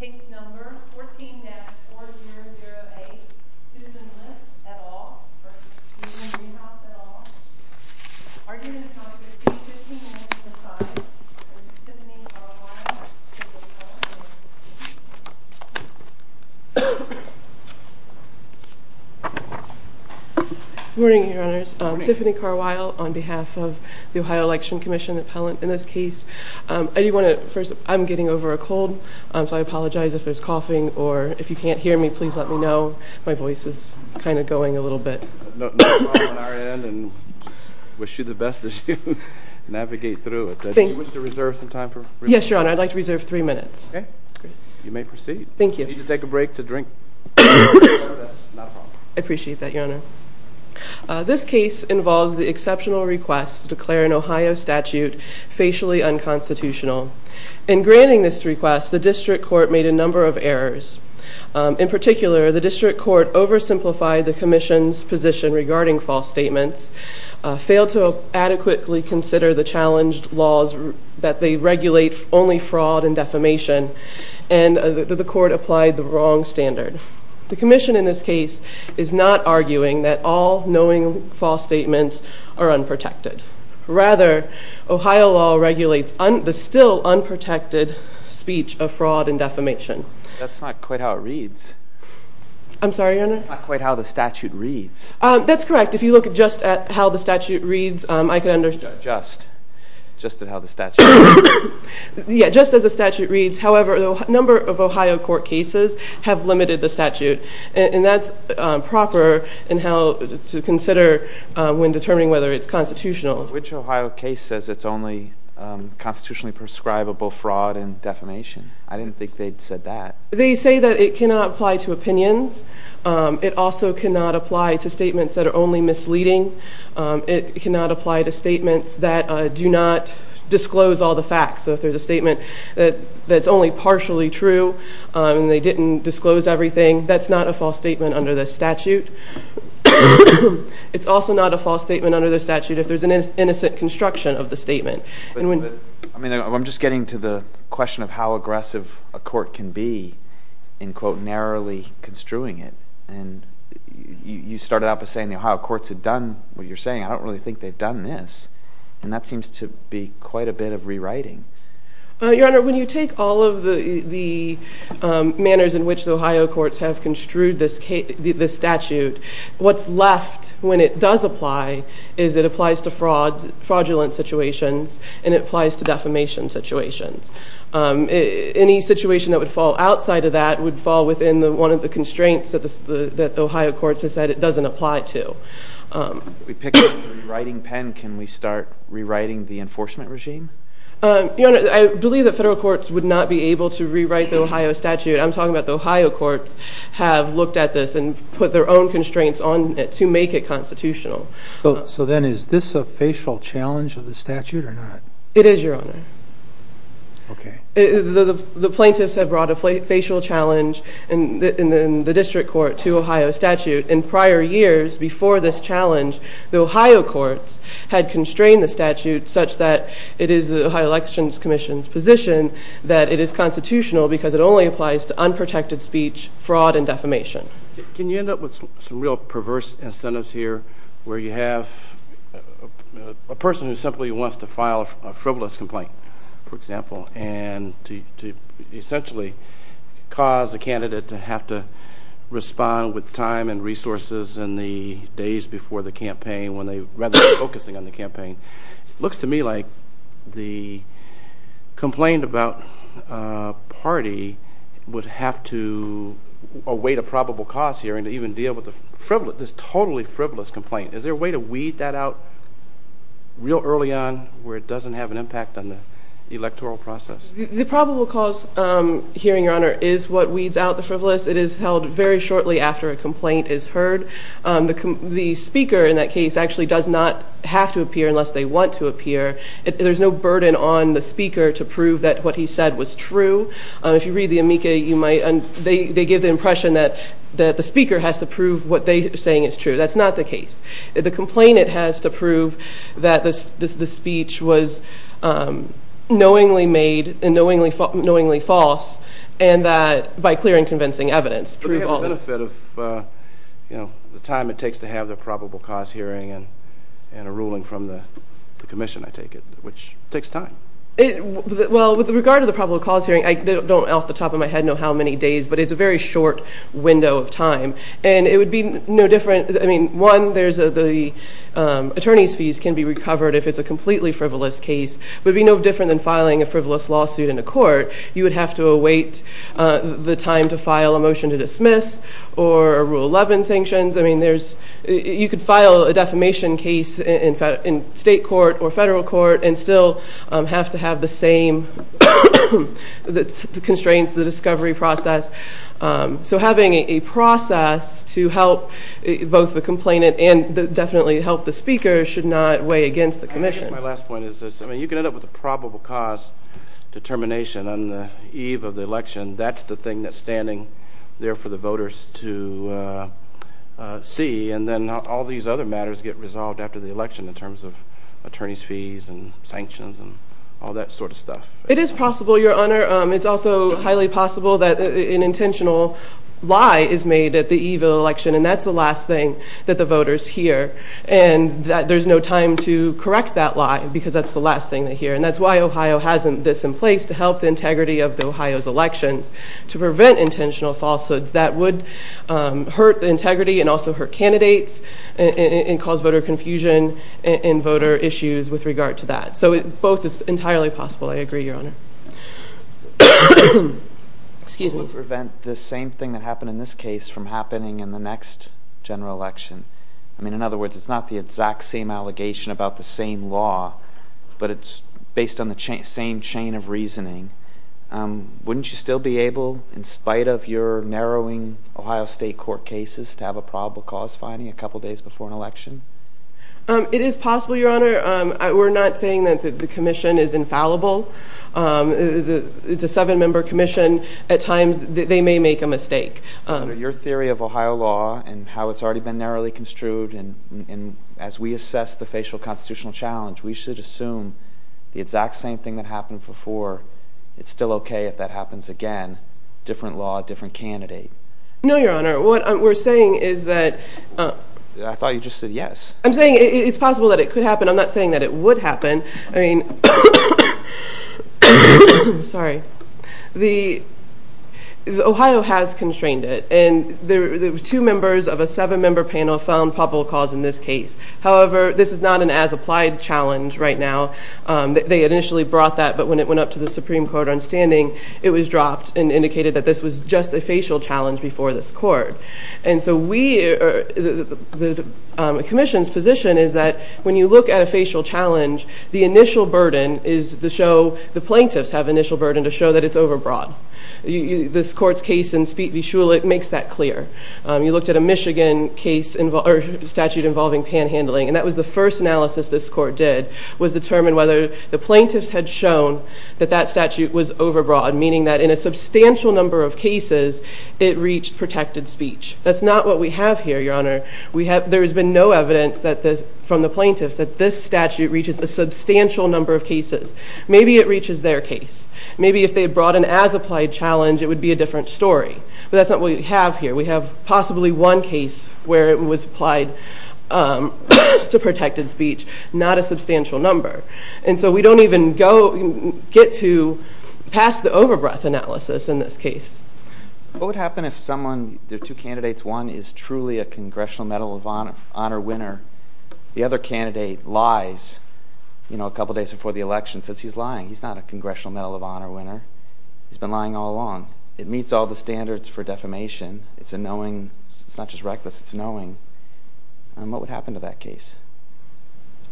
Case No. 14-4008, Susan List, et al. v. Steven Driehaus, et al. Arguments Congress, Page 1595, v. Tiffany Carwile, et al. Good morning, Your Honors. Tiffany Carwile, on behalf of the Ohio Election Commission appellant in this case. I'm getting over a cold, so I apologize if there's coughing, or if you can't hear me, please let me know. My voice is kind of going a little bit. Not a problem on our end, and wish you the best as you navigate through it. Thank you. Do you wish to reserve some time? Yes, Your Honor. I'd like to reserve three minutes. Okay. You may proceed. Thank you. If you need to take a break to drink, that's not a problem. I appreciate that, Your Honor. This case involves the exceptional request to declare an Ohio statute facially unconstitutional. In granting this request, the district court made a number of errors. In particular, the district court oversimplified the commission's position regarding false statements, failed to adequately consider the challenged laws that they regulate only fraud and defamation, and the court applied the wrong standard. The commission in this case is not arguing that all knowing false statements are unprotected. Rather, Ohio law regulates the still unprotected speech of fraud and defamation. That's not quite how it reads. I'm sorry, Your Honor? That's not quite how the statute reads. That's correct. If you look just at how the statute reads, I can understand. Just. Just at how the statute reads. Yeah, just as the statute reads. However, a number of Ohio court cases have limited the statute, and that's proper to consider when determining whether it's constitutional. Which Ohio case says it's only constitutionally prescribable fraud and defamation? I didn't think they'd said that. They say that it cannot apply to opinions. It also cannot apply to statements that are only misleading. It cannot apply to statements that do not disclose all the facts. So if there's a statement that's only partially true and they didn't disclose everything, that's not a false statement under the statute. It's also not a false statement under the statute if there's an innocent construction of the statement. I mean, I'm just getting to the question of how aggressive a court can be in, quote, saying the Ohio courts have done what you're saying. I don't really think they've done this. And that seems to be quite a bit of rewriting. Your Honor, when you take all of the manners in which the Ohio courts have construed this statute, what's left when it does apply is it applies to fraudulent situations, and it applies to defamation situations. Any situation that would fall outside of that would fall within one of the constraints that the Ohio courts have said it doesn't apply to. If we pick up the rewriting pen, can we start rewriting the enforcement regime? Your Honor, I believe the federal courts would not be able to rewrite the Ohio statute. I'm talking about the Ohio courts have looked at this and put their own constraints on it to make it constitutional. So then is this a facial challenge of the statute or not? It is, Your Honor. Okay. The plaintiffs have brought a facial challenge in the district court to Ohio statute. In prior years before this challenge, the Ohio courts had constrained the statute such that it is the Ohio Elections Commission's position that it is constitutional because it only applies to unprotected speech, fraud, and defamation. Can you end up with some real perverse incentives here where you have a person who simply wants to file a frivolous complaint, for example, and to essentially cause a candidate to have to respond with time and resources in the days before the campaign when they are focusing on the campaign? It looks to me like the complaint about a party would have to await a probable cause hearing to even deal with this totally frivolous complaint. Is there a way to weed that out real early on where it doesn't have an impact on the electoral process? The probable cause hearing, Your Honor, is what weeds out the frivolous. It is held very shortly after a complaint is heard. The speaker in that case actually does not have to appear unless they want to appear. There's no burden on the speaker to prove that what he said was true. If you read the amica, they give the impression that the speaker has to prove what they are saying is true. That's not the case. The complainant has to prove that the speech was knowingly made and knowingly false by clear and convincing evidence. But they have the benefit of the time it takes to have the probable cause hearing and a ruling from the commission, I take it, which takes time. Well, with regard to the probable cause hearing, I don't off the top of my head know how many days, but it's a very short window of time. And it would be no different. I mean, one, the attorney's fees can be recovered if it's a completely frivolous case. It would be no different than filing a frivolous lawsuit in a court. You would have to await the time to file a motion to dismiss or rule 11 sanctions. I mean, you could file a defamation case in state court or federal court and still have to have the same constraints, the discovery process. So having a process to help both the complainant and definitely help the speaker should not weigh against the commission. I guess my last point is this. I mean, you can end up with a probable cause determination on the eve of the election. That's the thing that's standing there for the voters to see. And then all these other matters get resolved after the election in terms of attorney's fees and sanctions and all that sort of stuff. It is possible, Your Honor. It's also highly possible that an intentional lie is made at the eve of the election, and that's the last thing that the voters hear. And there's no time to correct that lie because that's the last thing they hear. And that's why Ohio has this in place, to help the integrity of Ohio's elections, to prevent intentional falsehoods that would hurt the integrity and also hurt candidates and cause voter confusion and voter issues with regard to that. So both is entirely possible. I agree, Your Honor. Excuse me. It would prevent the same thing that happened in this case from happening in the next general election. I mean, in other words, it's not the exact same allegation about the same law, but it's based on the same chain of reasoning. Wouldn't you still be able, in spite of your narrowing Ohio State court cases, to have a probable cause finding a couple days before an election? It is possible, Your Honor. We're not saying that the commission is infallible. It's a seven-member commission. At times they may make a mistake. So your theory of Ohio law and how it's already been narrowly construed and as we assess the facial constitutional challenge, we should assume the exact same thing that happened before, it's still okay if that happens again, different law, different candidate. No, Your Honor. What we're saying is that – I thought you just said yes. I'm saying it's possible that it could happen. I'm not saying that it would happen. Sorry. Ohio has constrained it, and two members of a seven-member panel found probable cause in this case. However, this is not an as-applied challenge right now. They initially brought that, but when it went up to the Supreme Court on standing, it was dropped and indicated that this was just a facial challenge before this court. And so the commission's position is that when you look at a facial challenge, the initial burden is to show – the plaintiffs have initial burden to show that it's overbroad. This court's case in Speed v. Shule, it makes that clear. You looked at a Michigan statute involving panhandling, and that was the first analysis this court did, was determine whether the plaintiffs had shown that that statute was overbroad, meaning that in a substantial number of cases it reached protected speech. That's not what we have here, Your Honor. There has been no evidence from the plaintiffs that this statute reaches a substantial number of cases. Maybe it reaches their case. Maybe if they had brought an as-applied challenge, it would be a different story. But that's not what we have here. We have possibly one case where it was applied to protected speech, not a substantial number. And so we don't even get to pass the overbreath analysis in this case. What would happen if someone – there are two candidates. One is truly a Congressional Medal of Honor winner. The other candidate lies a couple days before the election, says he's lying. He's not a Congressional Medal of Honor winner. He's been lying all along. It meets all the standards for defamation. It's a knowing – it's not just reckless, it's knowing. What would happen to that case?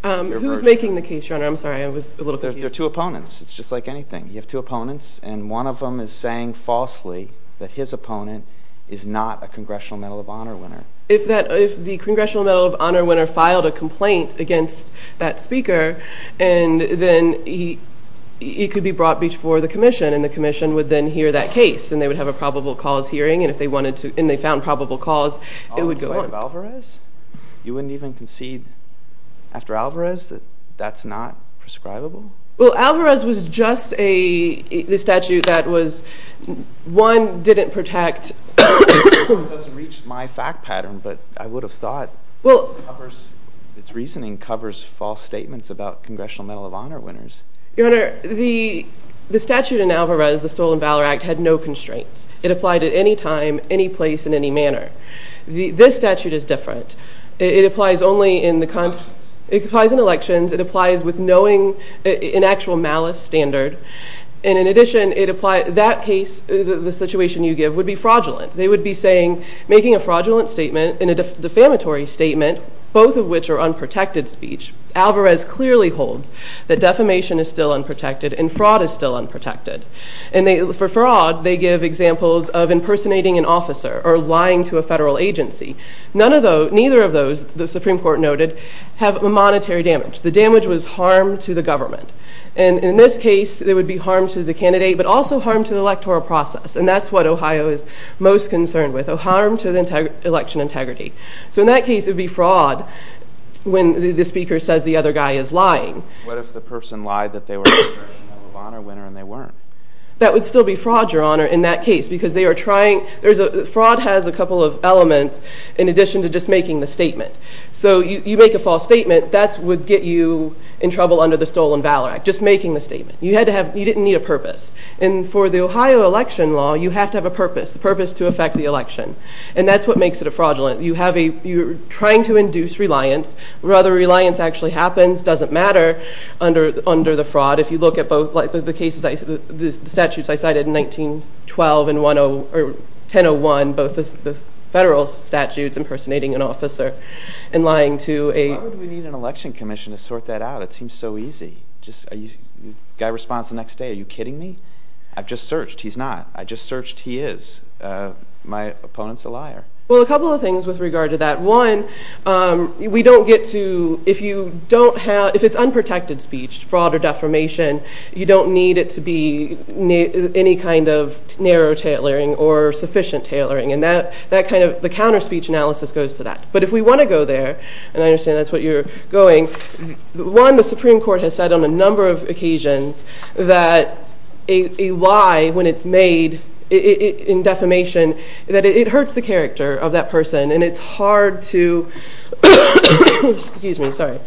Who is making the case, Your Honor? I'm sorry, I was a little confused. There are two opponents. It's just like anything. You have two opponents, and one of them is saying falsely that his opponent is not a Congressional Medal of Honor winner. If the Congressional Medal of Honor winner filed a complaint against that speaker, then he could be brought before the commission, and the commission would then hear that case, and they would have a probable cause hearing, and if they wanted to – and they found probable cause, it would go on. You wouldn't even concede after Alvarez that that's not prescribable? Well, Alvarez was just a – the statute that was – one didn't protect – It doesn't reach my fact pattern, but I would have thought its reasoning covers false statements about Congressional Medal of Honor winners. Your Honor, the statute in Alvarez, the Stolen Valor Act, had no constraints. It applied at any time, any place, and any manner. This statute is different. It applies only in the – it applies in elections. It applies with knowing an actual malice standard, and in addition, it applies – that case, the situation you give, would be fraudulent. They would be saying – making a fraudulent statement and a defamatory statement, both of which are unprotected speech. Alvarez clearly holds that defamation is still unprotected and fraud is still unprotected, and they – for fraud, they give examples of impersonating an officer or lying to a federal agency. None of those – neither of those, the Supreme Court noted, have monetary damage. The damage was harm to the government, and in this case, it would be harm to the candidate, but also harm to the electoral process, and that's what Ohio is most concerned with, harm to the election integrity. So in that case, it would be fraud when the speaker says the other guy is lying. What if the person lied that they were a congressional honor winner, and they weren't? That would still be fraud, Your Honor, in that case because they are trying – there's a – fraud has a couple of elements in addition to just making the statement. So you make a false statement, that would get you in trouble under the Stolen Valor Act, just making the statement. You had to have – you didn't need a purpose, and for the Ohio election law, you have to have a purpose, the purpose to affect the election, and that's what makes it a fraudulent – you have a – you're trying to induce reliance. Whether reliance actually happens doesn't matter under the fraud. If you look at both – like the cases – the statutes I cited in 1912 and 1001, both the federal statutes impersonating an officer and lying to a – Why would we need an election commission to sort that out? It seems so easy. Just a guy responds the next day. Are you kidding me? I've just searched. He's not. I just searched. He is. My opponent's a liar. Well, a couple of things with regard to that. One, we don't get to – if you don't have – if it's unprotected speech, fraud or defamation, you don't need it to be any kind of narrow tailoring or sufficient tailoring, and that kind of – the counter-speech analysis goes to that. But if we want to go there – and I understand that's what you're going – one, the Supreme Court has said on a number of occasions that a lie, when it's made in defamation, that it hurts the character of that person and it's hard to – Excuse me. Sorry.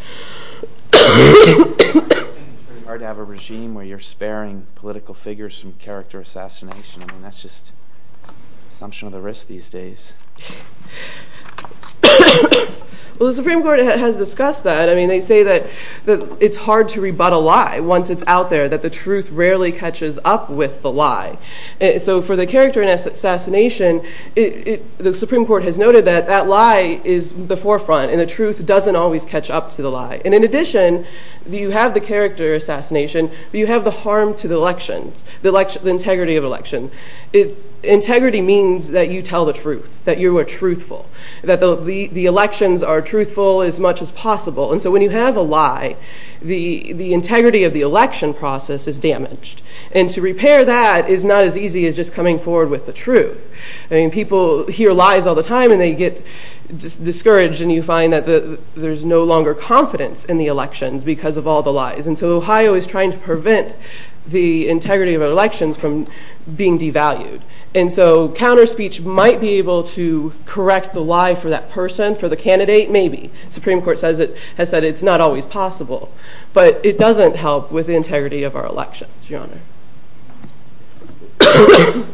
It's very hard to have a regime where you're sparing political figures from character assassination. I mean, that's just an assumption of the risk these days. Well, the Supreme Court has discussed that. I mean, they say that it's hard to rebut a lie once it's out there, that the truth rarely catches up with the lie. So for the character assassination, the Supreme Court has noted that that lie is the forefront and the truth doesn't always catch up to the lie. And in addition, you have the character assassination, but you have the harm to the elections, the integrity of election. Integrity means that you tell the truth, that you are truthful, that the elections are truthful as much as possible. And so when you have a lie, the integrity of the election process is damaged. And to repair that is not as easy as just coming forward with the truth. I mean, people hear lies all the time and they get discouraged and you find that there's no longer confidence in the elections because of all the lies. And so Ohio is trying to prevent the integrity of our elections from being devalued. And so counterspeech might be able to correct the lie for that person, for the candidate, maybe. The Supreme Court has said it's not always possible. But it doesn't help with the integrity of our elections, Your Honor. Okay.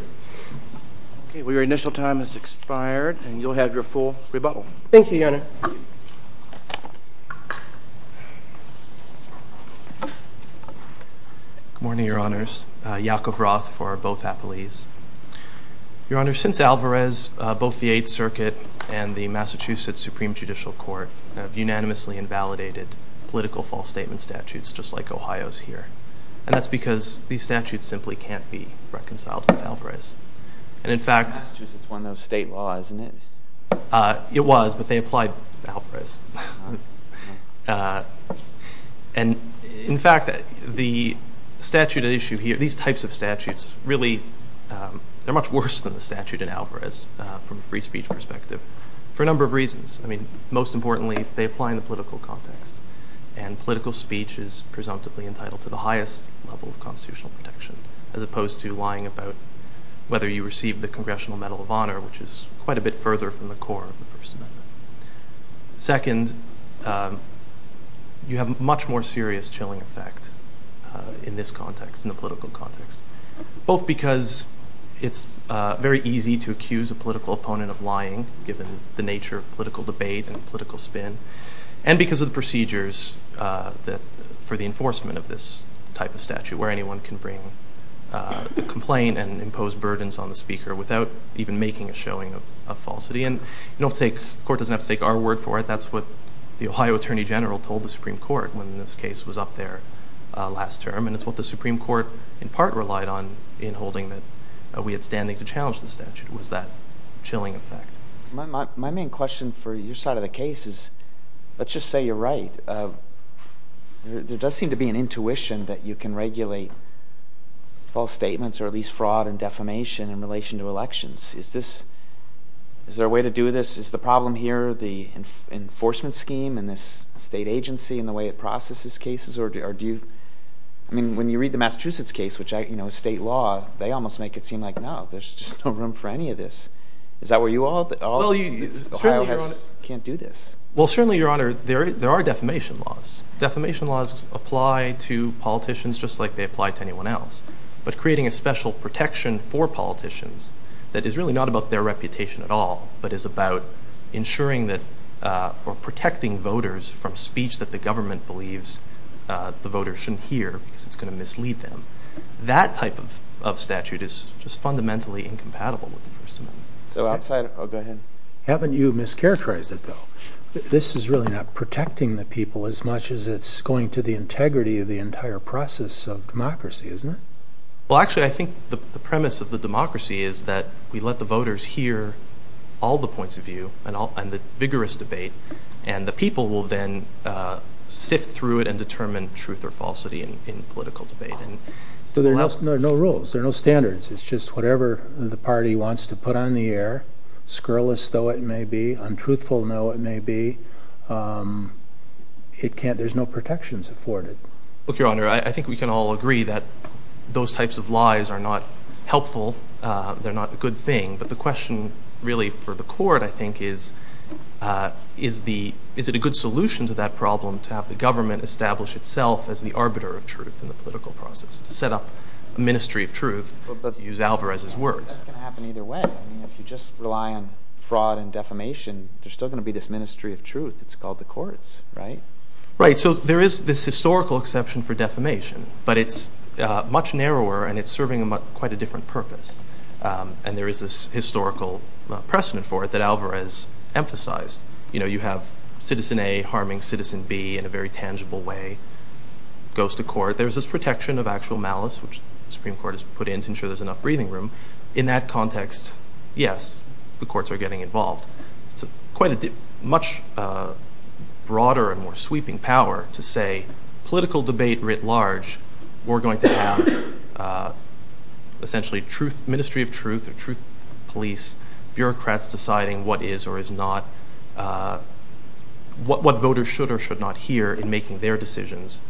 Well, your initial time has expired and you'll have your full rebuttal. Thank you, Your Honor. Good morning, Your Honors. Yakov Roth for both appellees. Your Honor, since Alvarez, both the Eighth Circuit and the Massachusetts Supreme Judicial Court have unanimously invalidated political false statement statutes just like Ohio's here. And that's because these statutes simply can't be reconciled with Alvarez. Massachusetts won those state laws, isn't it? It was, but they applied to Alvarez. And, in fact, the statute at issue here, these types of statutes, really they're much worse than the statute in Alvarez from a free speech perspective for a number of reasons. I mean, most importantly, they apply in the political context. And political speech is presumptively entitled to the highest level of constitutional protection as opposed to lying about whether you received the Congressional Medal of Honor, which is quite a bit further from the core of the First Amendment. Second, you have a much more serious chilling effect in this context, in the political context, both because it's very easy to accuse a political opponent of lying given the nature of political debate and political spin, and because of the procedures for the enforcement of this type of statute where anyone can bring a complaint and impose burdens on the speaker without even making a showing of falsity. And the Court doesn't have to take our word for it. That's what the Ohio Attorney General told the Supreme Court when this case was up there last term. And it's what the Supreme Court, in part, relied on in holding that we had standing to challenge the statute was that chilling effect. My main question for your side of the case is let's just say you're right. There does seem to be an intuition that you can regulate false statements or at least fraud and defamation in relation to elections. Is there a way to do this? Is the problem here the enforcement scheme and this state agency and the way it processes cases? I mean, when you read the Massachusetts case, which is state law, they almost make it seem like, no, there's just no room for any of this. Is that where you all at? Ohio can't do this. Well, certainly, Your Honor, there are defamation laws. Defamation laws apply to politicians just like they apply to anyone else. But creating a special protection for politicians that is really not about their reputation at all but is about ensuring that we're protecting voters from speech that the government believes the voters shouldn't hear because it's going to mislead them, that type of statute is just fundamentally incompatible with the First Amendment. So outside of – oh, go ahead. Haven't you mischaracterized it, though? This is really not protecting the people as much as it's going to the integrity of the entire process of democracy, isn't it? Well, actually, I think the premise of the democracy is that we let the voters hear all the points of view and the vigorous debate, and the people will then sift through it and determine truth or falsity in political debate. But there are no rules. There are no standards. It's just whatever the party wants to put on the air, scurrilous though it may be, untruthful though it may be, there's no protections afforded. Look, Your Honor, I think we can all agree that those types of lies are not helpful. They're not a good thing. But the question really for the court, I think, is, is it a good solution to that problem to have the government establish itself as the arbiter of truth in the political process, to set up a ministry of truth, to use Alvarez's words? That's going to happen either way. I mean, if you just rely on fraud and defamation, there's still going to be this ministry of truth that's called the courts, right? Right. So there is this historical exception for defamation, but it's much narrower and it's serving quite a different purpose. And there is this historical precedent for it that Alvarez emphasized. You know, you have citizen A harming citizen B in a very tangible way. It goes to court. There's this protection of actual malice, which the Supreme Court has put in to ensure there's enough breathing room. In that context, yes, the courts are getting involved. It's quite a much broader and more sweeping power to say, in a political debate writ large, we're going to have essentially a ministry of truth or truth police, bureaucrats deciding what is or is not, what voters should or should not hear in making their decisions.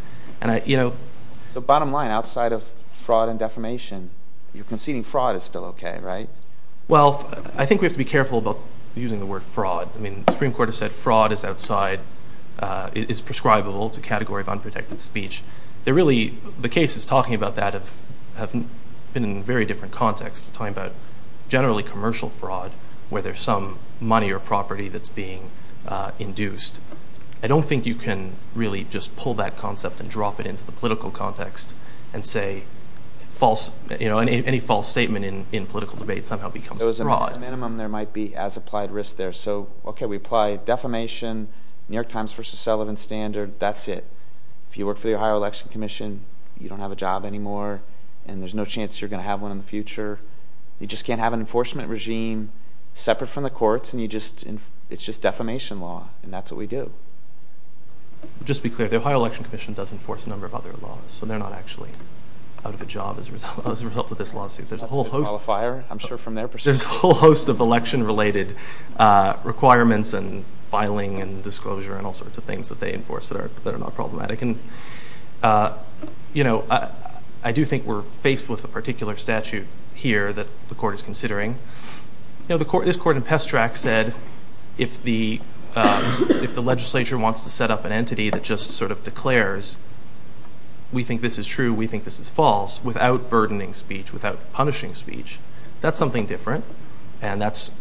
So bottom line, outside of fraud and defamation, you're conceding fraud is still okay, right? Well, I think we have to be careful about using the word fraud. I mean, the Supreme Court has said fraud is outside, is prescribable to category of unprotected speech. They're really, the cases talking about that have been in a very different context, talking about generally commercial fraud, where there's some money or property that's being induced. I don't think you can really just pull that concept and drop it into the political context and say false, you know, any false statement in political debate somehow becomes fraud. So as a minimum, there might be as applied risk there. So, okay, we apply defamation, New York Times versus Sullivan Standard, that's it. If you work for the Ohio Election Commission, you don't have a job anymore, and there's no chance you're going to have one in the future. You just can't have an enforcement regime separate from the courts, and it's just defamation law, and that's what we do. Just to be clear, the Ohio Election Commission does enforce a number of other laws, so they're not actually out of a job as a result of this lawsuit. That's a good qualifier, I'm sure from their perspective. There's a whole host of election-related requirements and filing and disclosure and all sorts of things that they enforce that are not problematic. I do think we're faced with a particular statute here that the court is considering. This court in Pestrac said, if the legislature wants to set up an entity that just sort of declares, we think this is true, we think this is false, without burdening speech, without punishing speech, that's something different, and that's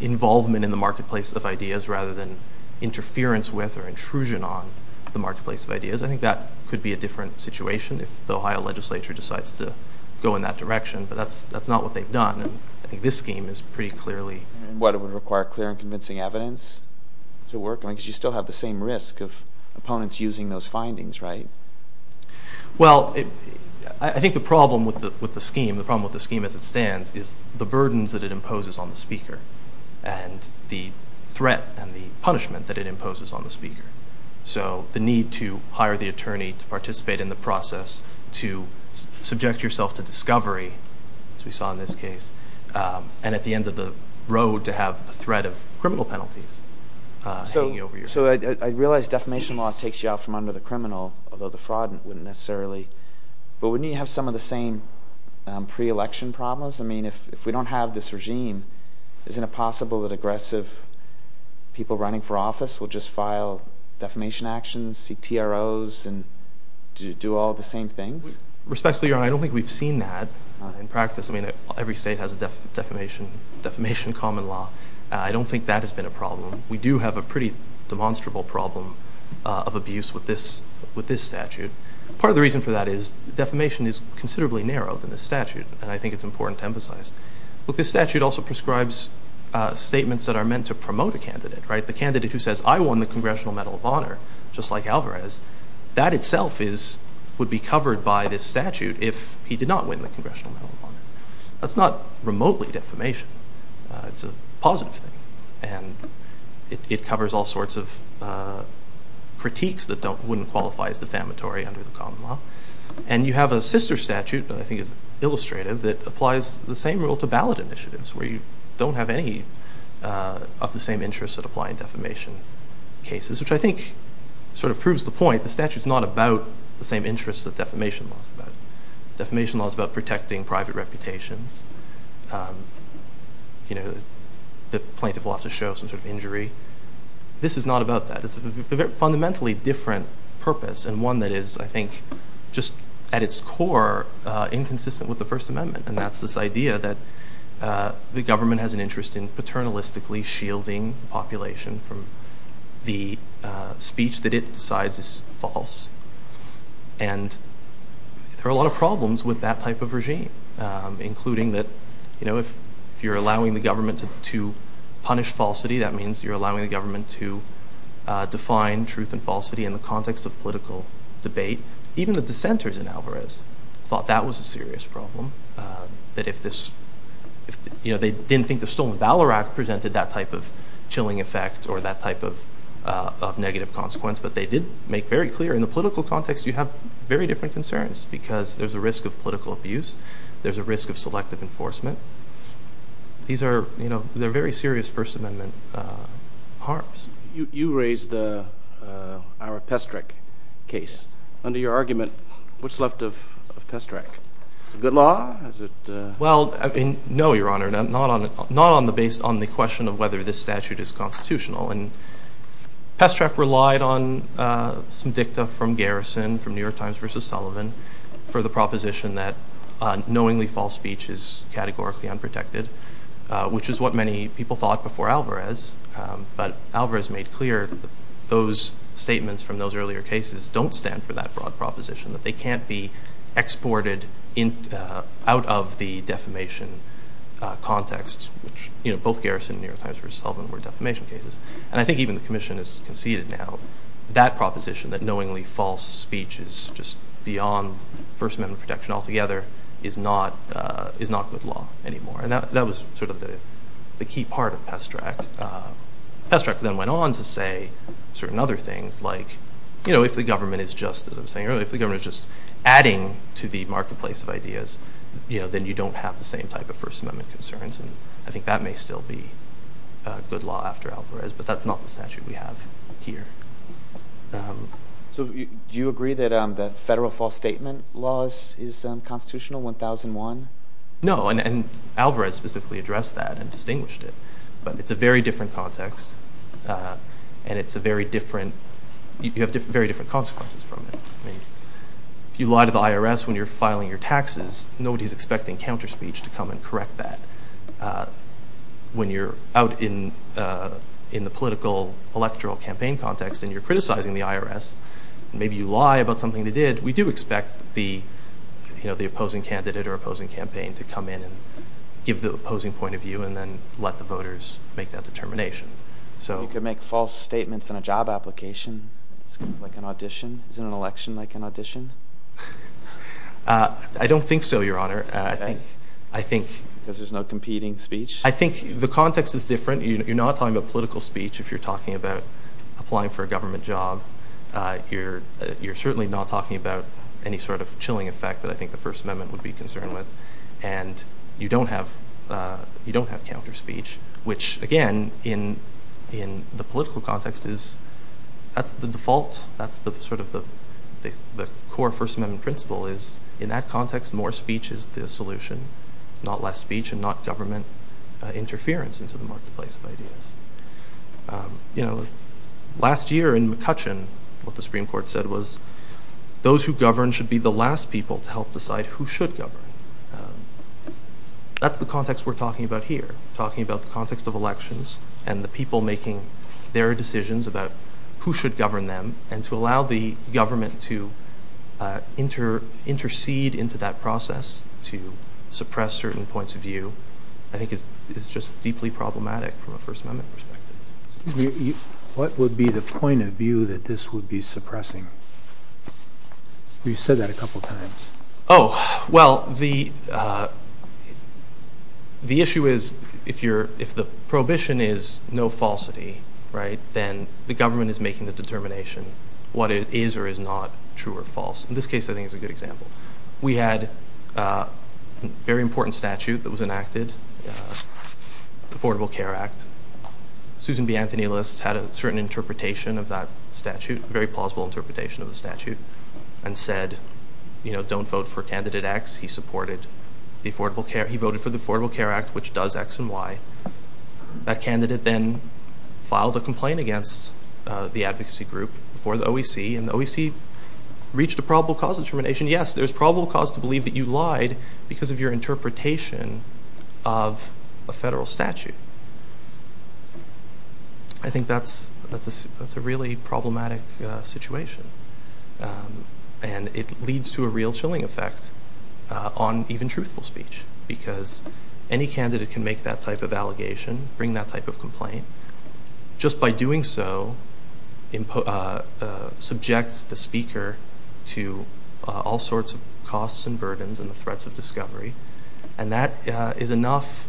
involvement in the marketplace of ideas rather than interference with or intrusion on the marketplace of ideas. I think that could be a different situation if the Ohio legislature decides to go in that direction, but that's not what they've done, and I think this scheme is pretty clearly... And what, it would require clear and convincing evidence to work? I mean, because you still have the same risk of opponents using those findings, right? Well, I think the problem with the scheme, the problem with the scheme as it stands is the burdens that it imposes on the speaker and the threat and the punishment that it imposes on the speaker. So the need to hire the attorney to participate in the process, to subject yourself to discovery, as we saw in this case, and at the end of the road to have the threat of criminal penalties hanging over your head. So I realize defamation law takes you out from under the criminal, although the fraud wouldn't necessarily, but wouldn't you have some of the same pre-election problems? I mean, if we don't have this regime, isn't it possible that aggressive people running for office will just file defamation actions, seek TROs, and do all the same things? Respectfully, Your Honor, I don't think we've seen that in practice. I mean, every state has a defamation common law. I don't think that has been a problem. We do have a pretty demonstrable problem of abuse with this statute. Part of the reason for that is defamation is considerably narrower than this statute, and I think it's important to emphasize. Look, this statute also prescribes statements that are meant to promote a candidate, right? The candidate who says, I won the Congressional Medal of Honor, just like Alvarez, that itself would be covered by this statute if he did not win the Congressional Medal of Honor. That's not remotely defamation. It's a positive thing, and it covers all sorts of critiques that wouldn't qualify as defamatory under the common law. And you have a sister statute that I think is illustrative that applies the same rule to ballot initiatives, where you don't have any of the same interests that apply in defamation cases, which I think sort of proves the point. The statute's not about the same interests that defamation law is about. Defamation law is about protecting private reputations. The plaintiff will have to show some sort of injury. This is not about that. It's a fundamentally different purpose, and one that is, I think, just at its core inconsistent with the First Amendment, and that's this idea that the government has an interest in paternalistically shielding the population from the speech that it decides is false. And there are a lot of problems with that type of regime, including that if you're allowing the government to punish falsity, that means you're allowing the government to define truth and falsity in the context of political debate. Even the dissenters in Alvarez thought that was a serious problem, that if this, you know, they didn't think the Stolen Valor Act presented that type of chilling effect or that type of negative consequence, but they did make very clear in the political context you have very different concerns because there's a risk of political abuse, there's a risk of selective enforcement. These are, you know, they're very serious First Amendment harms. You raised our Pestrec case. Under your argument, what's left of Pestrec? Is it good law? Well, no, Your Honor. Not based on the question of whether this statute is constitutional. Pestrec relied on some dicta from Garrison, from New York Times versus Sullivan, for the proposition that knowingly false speech is categorically unprotected, which is what many people thought before Alvarez. But Alvarez made clear those statements from those earlier cases don't stand for that broad proposition, that they can't be exported out of the defamation context, which, you know, both Garrison and New York Times versus Sullivan were defamation cases. And I think even the commission has conceded now that proposition, that knowingly false speech is just beyond First Amendment protection altogether, is not good law anymore. And that was sort of the key part of Pestrec. Pestrec then went on to say certain other things, like, you know, if the government is just, as I was saying earlier, if the government is just adding to the marketplace of ideas, then you don't have the same type of First Amendment concerns. And I think that may still be good law after Alvarez, but that's not the statute we have here. So do you agree that the federal false statement law is constitutional, 1001? No, and Alvarez specifically addressed that and distinguished it. But it's a very different context, and it's a very different— you have very different consequences from it. If you lie to the IRS when you're filing your taxes, nobody's expecting counter-speech to come and correct that. When you're out in the political electoral campaign context and you're criticizing the IRS, and maybe you lie about something they did, we do expect the opposing candidate or opposing campaign to come in and give the opposing point of view and then let the voters make that determination. You could make false statements in a job application, like an audition. Isn't an election like an audition? I don't think so, Your Honor. Because there's no competing speech? I think the context is different. You're not talking about political speech if you're talking about applying for a government job. You're certainly not talking about any sort of chilling effect that I think the First Amendment would be concerned with. And you don't have counter-speech, which, again, in the political context, that's the default. That's sort of the core First Amendment principle is, in that context, more speech is the solution, not less speech and not government interference into the marketplace of ideas. You know, last year in McCutcheon, what the Supreme Court said was those who govern should be the last people to help decide who should govern. That's the context we're talking about here, talking about the context of elections and the people making their decisions about who should govern them and to allow the government to intercede into that process, to suppress certain points of view, I think is just deeply problematic from a First Amendment perspective. Excuse me, what would be the point of view that this would be suppressing? You said that a couple times. Oh, well, the issue is, if the prohibition is no falsity, right, then the government is making the determination what is or is not true or false. In this case, I think it's a good example. We had a very important statute that was enacted, the Affordable Care Act. Susan B. Anthony List had a certain interpretation of that statute, a very plausible interpretation of the statute, and said, you know, don't vote for candidate X. He supported the Affordable Care... He voted for the Affordable Care Act, which does X and Y. That candidate then filed a complaint against the advocacy group for the OEC, and the OEC reached a probable cause determination. Yes, there's probable cause to believe that you lied because of your interpretation of a federal statute. I think that's a really problematic situation, and it leads to a real chilling effect on even truthful speech, because any candidate can make that type of allegation, bring that type of complaint, just by doing so subjects the speaker to all sorts of costs and burdens and the threats of discovery, and that is enough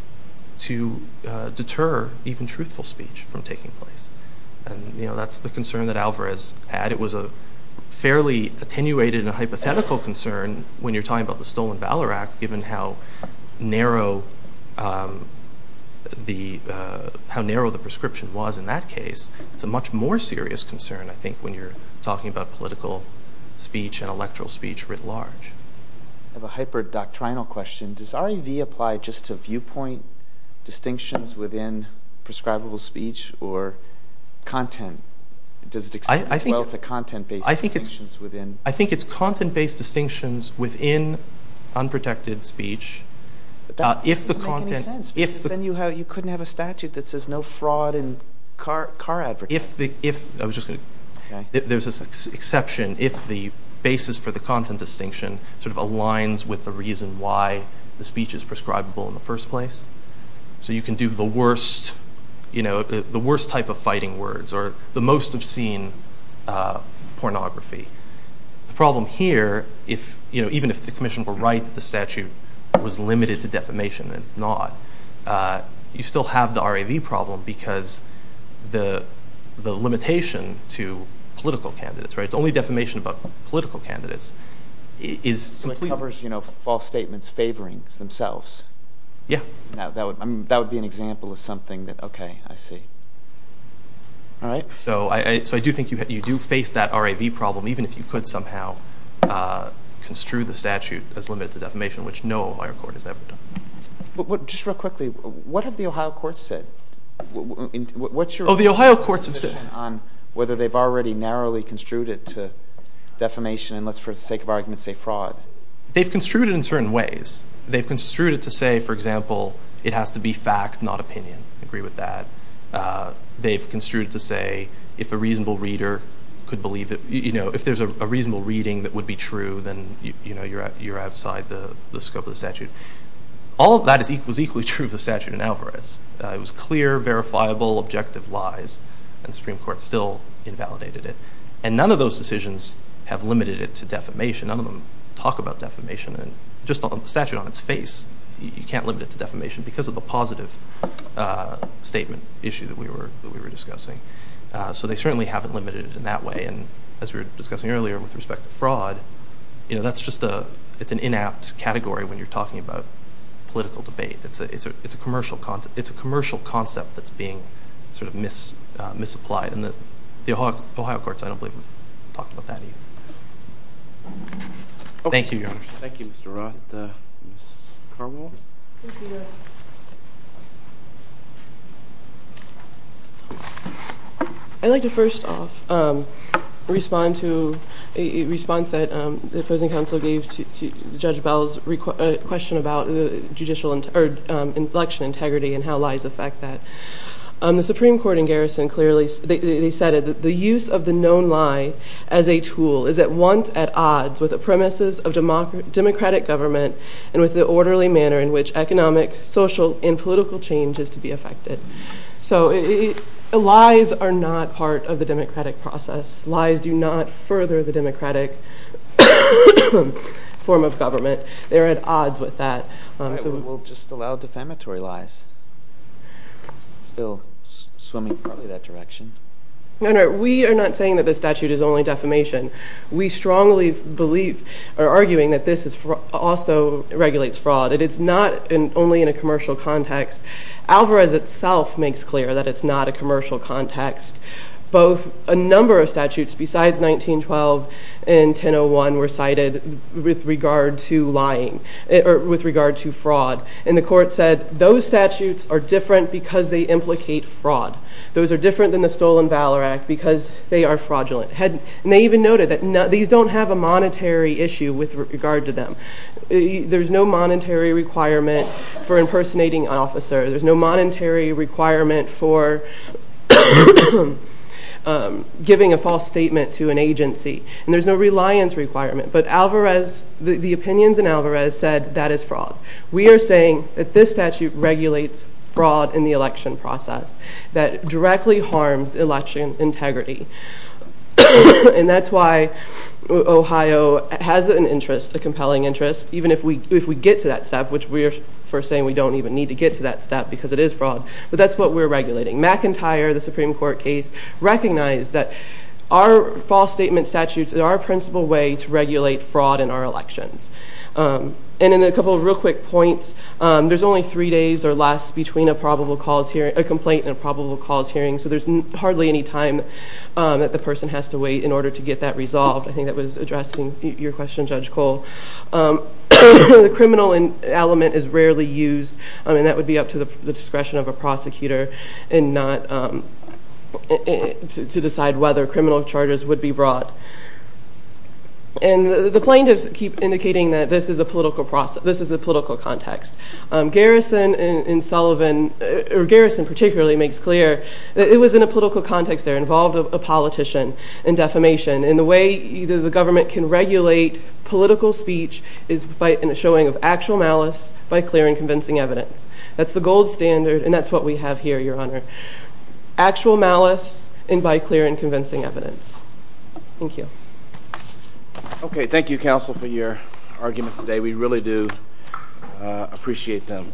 to deter even truthful speech from taking place. And, you know, that's the concern that Alvarez had. It was a fairly attenuated and a hypothetical concern when you're talking about the Stolen Valor Act, given how narrow the prescription was in that case. It's a much more serious concern, I think, when you're talking about political speech and electoral speech writ large. I have a hyper-doctrinal question. Does REV apply just to viewpoint distinctions within prescribable speech or content? Does it extend as well to content-based distinctions within... That doesn't make any sense, because then you couldn't have a statute that says no fraud in car advertising. I was just going to... There's this exception if the basis for the content distinction sort of aligns with the reason why the speech is prescribable in the first place. So you can do the worst type of fighting words or the most obscene pornography. The problem here, even if the commission were right that the statute was limited to defamation, and it's not, you still have the REV problem because the limitation to political candidates... It's only defamation about political candidates. So it covers false statements favoring themselves. Yeah. That would be an example of something that... Okay, I see. All right. So I do think you do face that REV problem, even if you could somehow construe the statute as limited to defamation, which no Ohio court has ever done. Just real quickly, what have the Ohio courts said? Oh, the Ohio courts have said... Whether they've already narrowly construed it to defamation, and let's, for the sake of argument, say fraud. They've construed it in certain ways. They've construed it to say, for example, it has to be fact, not opinion. I agree with that. They've construed it to say if a reasonable reader could believe it. If there's a reasonable reading that would be true, then you're outside the scope of the statute. All of that was equally true of the statute in Alvarez. It was clear, verifiable, objective lies, and the Supreme Court still invalidated it. And none of those decisions have limited it to defamation. None of them talk about defamation. Just the statute on its face, you can't limit it to defamation because of the positive statement issue that we were discussing. So they certainly haven't limited it in that way. And as we were discussing earlier with respect to fraud, that's just an inapt category when you're talking about political debate. It's a commercial concept that's being sort of misapplied, and the Ohio courts, I don't believe, have talked about that either. Thank you, Your Honor. Thank you, Mr. Roth. And Ms. Carwell? Thank you, Your Honor. I'd like to first off respond to a response that the opposing counsel gave to Judge Bell's question about election integrity and how lies affect that. The Supreme Court in Garrison clearly said that the use of the known lie as a tool is at once at odds with the premises of democratic government and with the orderly manner in which economic, social, and political change is to be affected. So lies are not part of the democratic process. Lies do not further the democratic form of government. They are at odds with that. All right. We'll just allow defamatory lies. Still swimming partly that direction. No, no, we are not saying that the statute is only defamation. We strongly believe or are arguing that this also regulates fraud, and it's not only in a commercial context. Alvarez itself makes clear that it's not a commercial context. Both a number of statutes besides 1912 and 1001 were cited with regard to lying or with regard to fraud, and the court said those statutes are different because they implicate fraud. Those are different than the Stolen Valor Act because they are fraudulent. And they even noted that these don't have a monetary issue with regard to them. There's no monetary requirement for impersonating an officer. There's no monetary requirement for giving a false statement to an agency, and there's no reliance requirement. But Alvarez, the opinions in Alvarez said that is fraud. We are saying that this statute regulates fraud in the election process, that it directly harms election integrity, and that's why Ohio has an interest, a compelling interest, even if we get to that step, which we are saying we don't even need to get to that step because it is fraud, but that's what we're regulating. McIntyre, the Supreme Court case, recognized that our false statement statutes are our principal way to regulate fraud in our elections. And in a couple of real quick points, there's only three days or less between a complaint and a probable cause hearing, so there's hardly any time that the person has to wait in order to get that resolved. I think that was addressing your question, Judge Cole. The criminal element is rarely used, and that would be up to the discretion of a prosecutor to decide whether criminal charges would be brought. And the plaintiffs keep indicating that this is the political context. Garrison, particularly, makes clear that it was in a political context there, involved a politician in defamation, and the way either the government can regulate political speech is by a showing of actual malice by clear and convincing evidence. That's the gold standard, and that's what we have here, Your Honor. Actual malice, and by clear and convincing evidence. Thank you. Okay, thank you, counsel, for your arguments today. We really do appreciate them.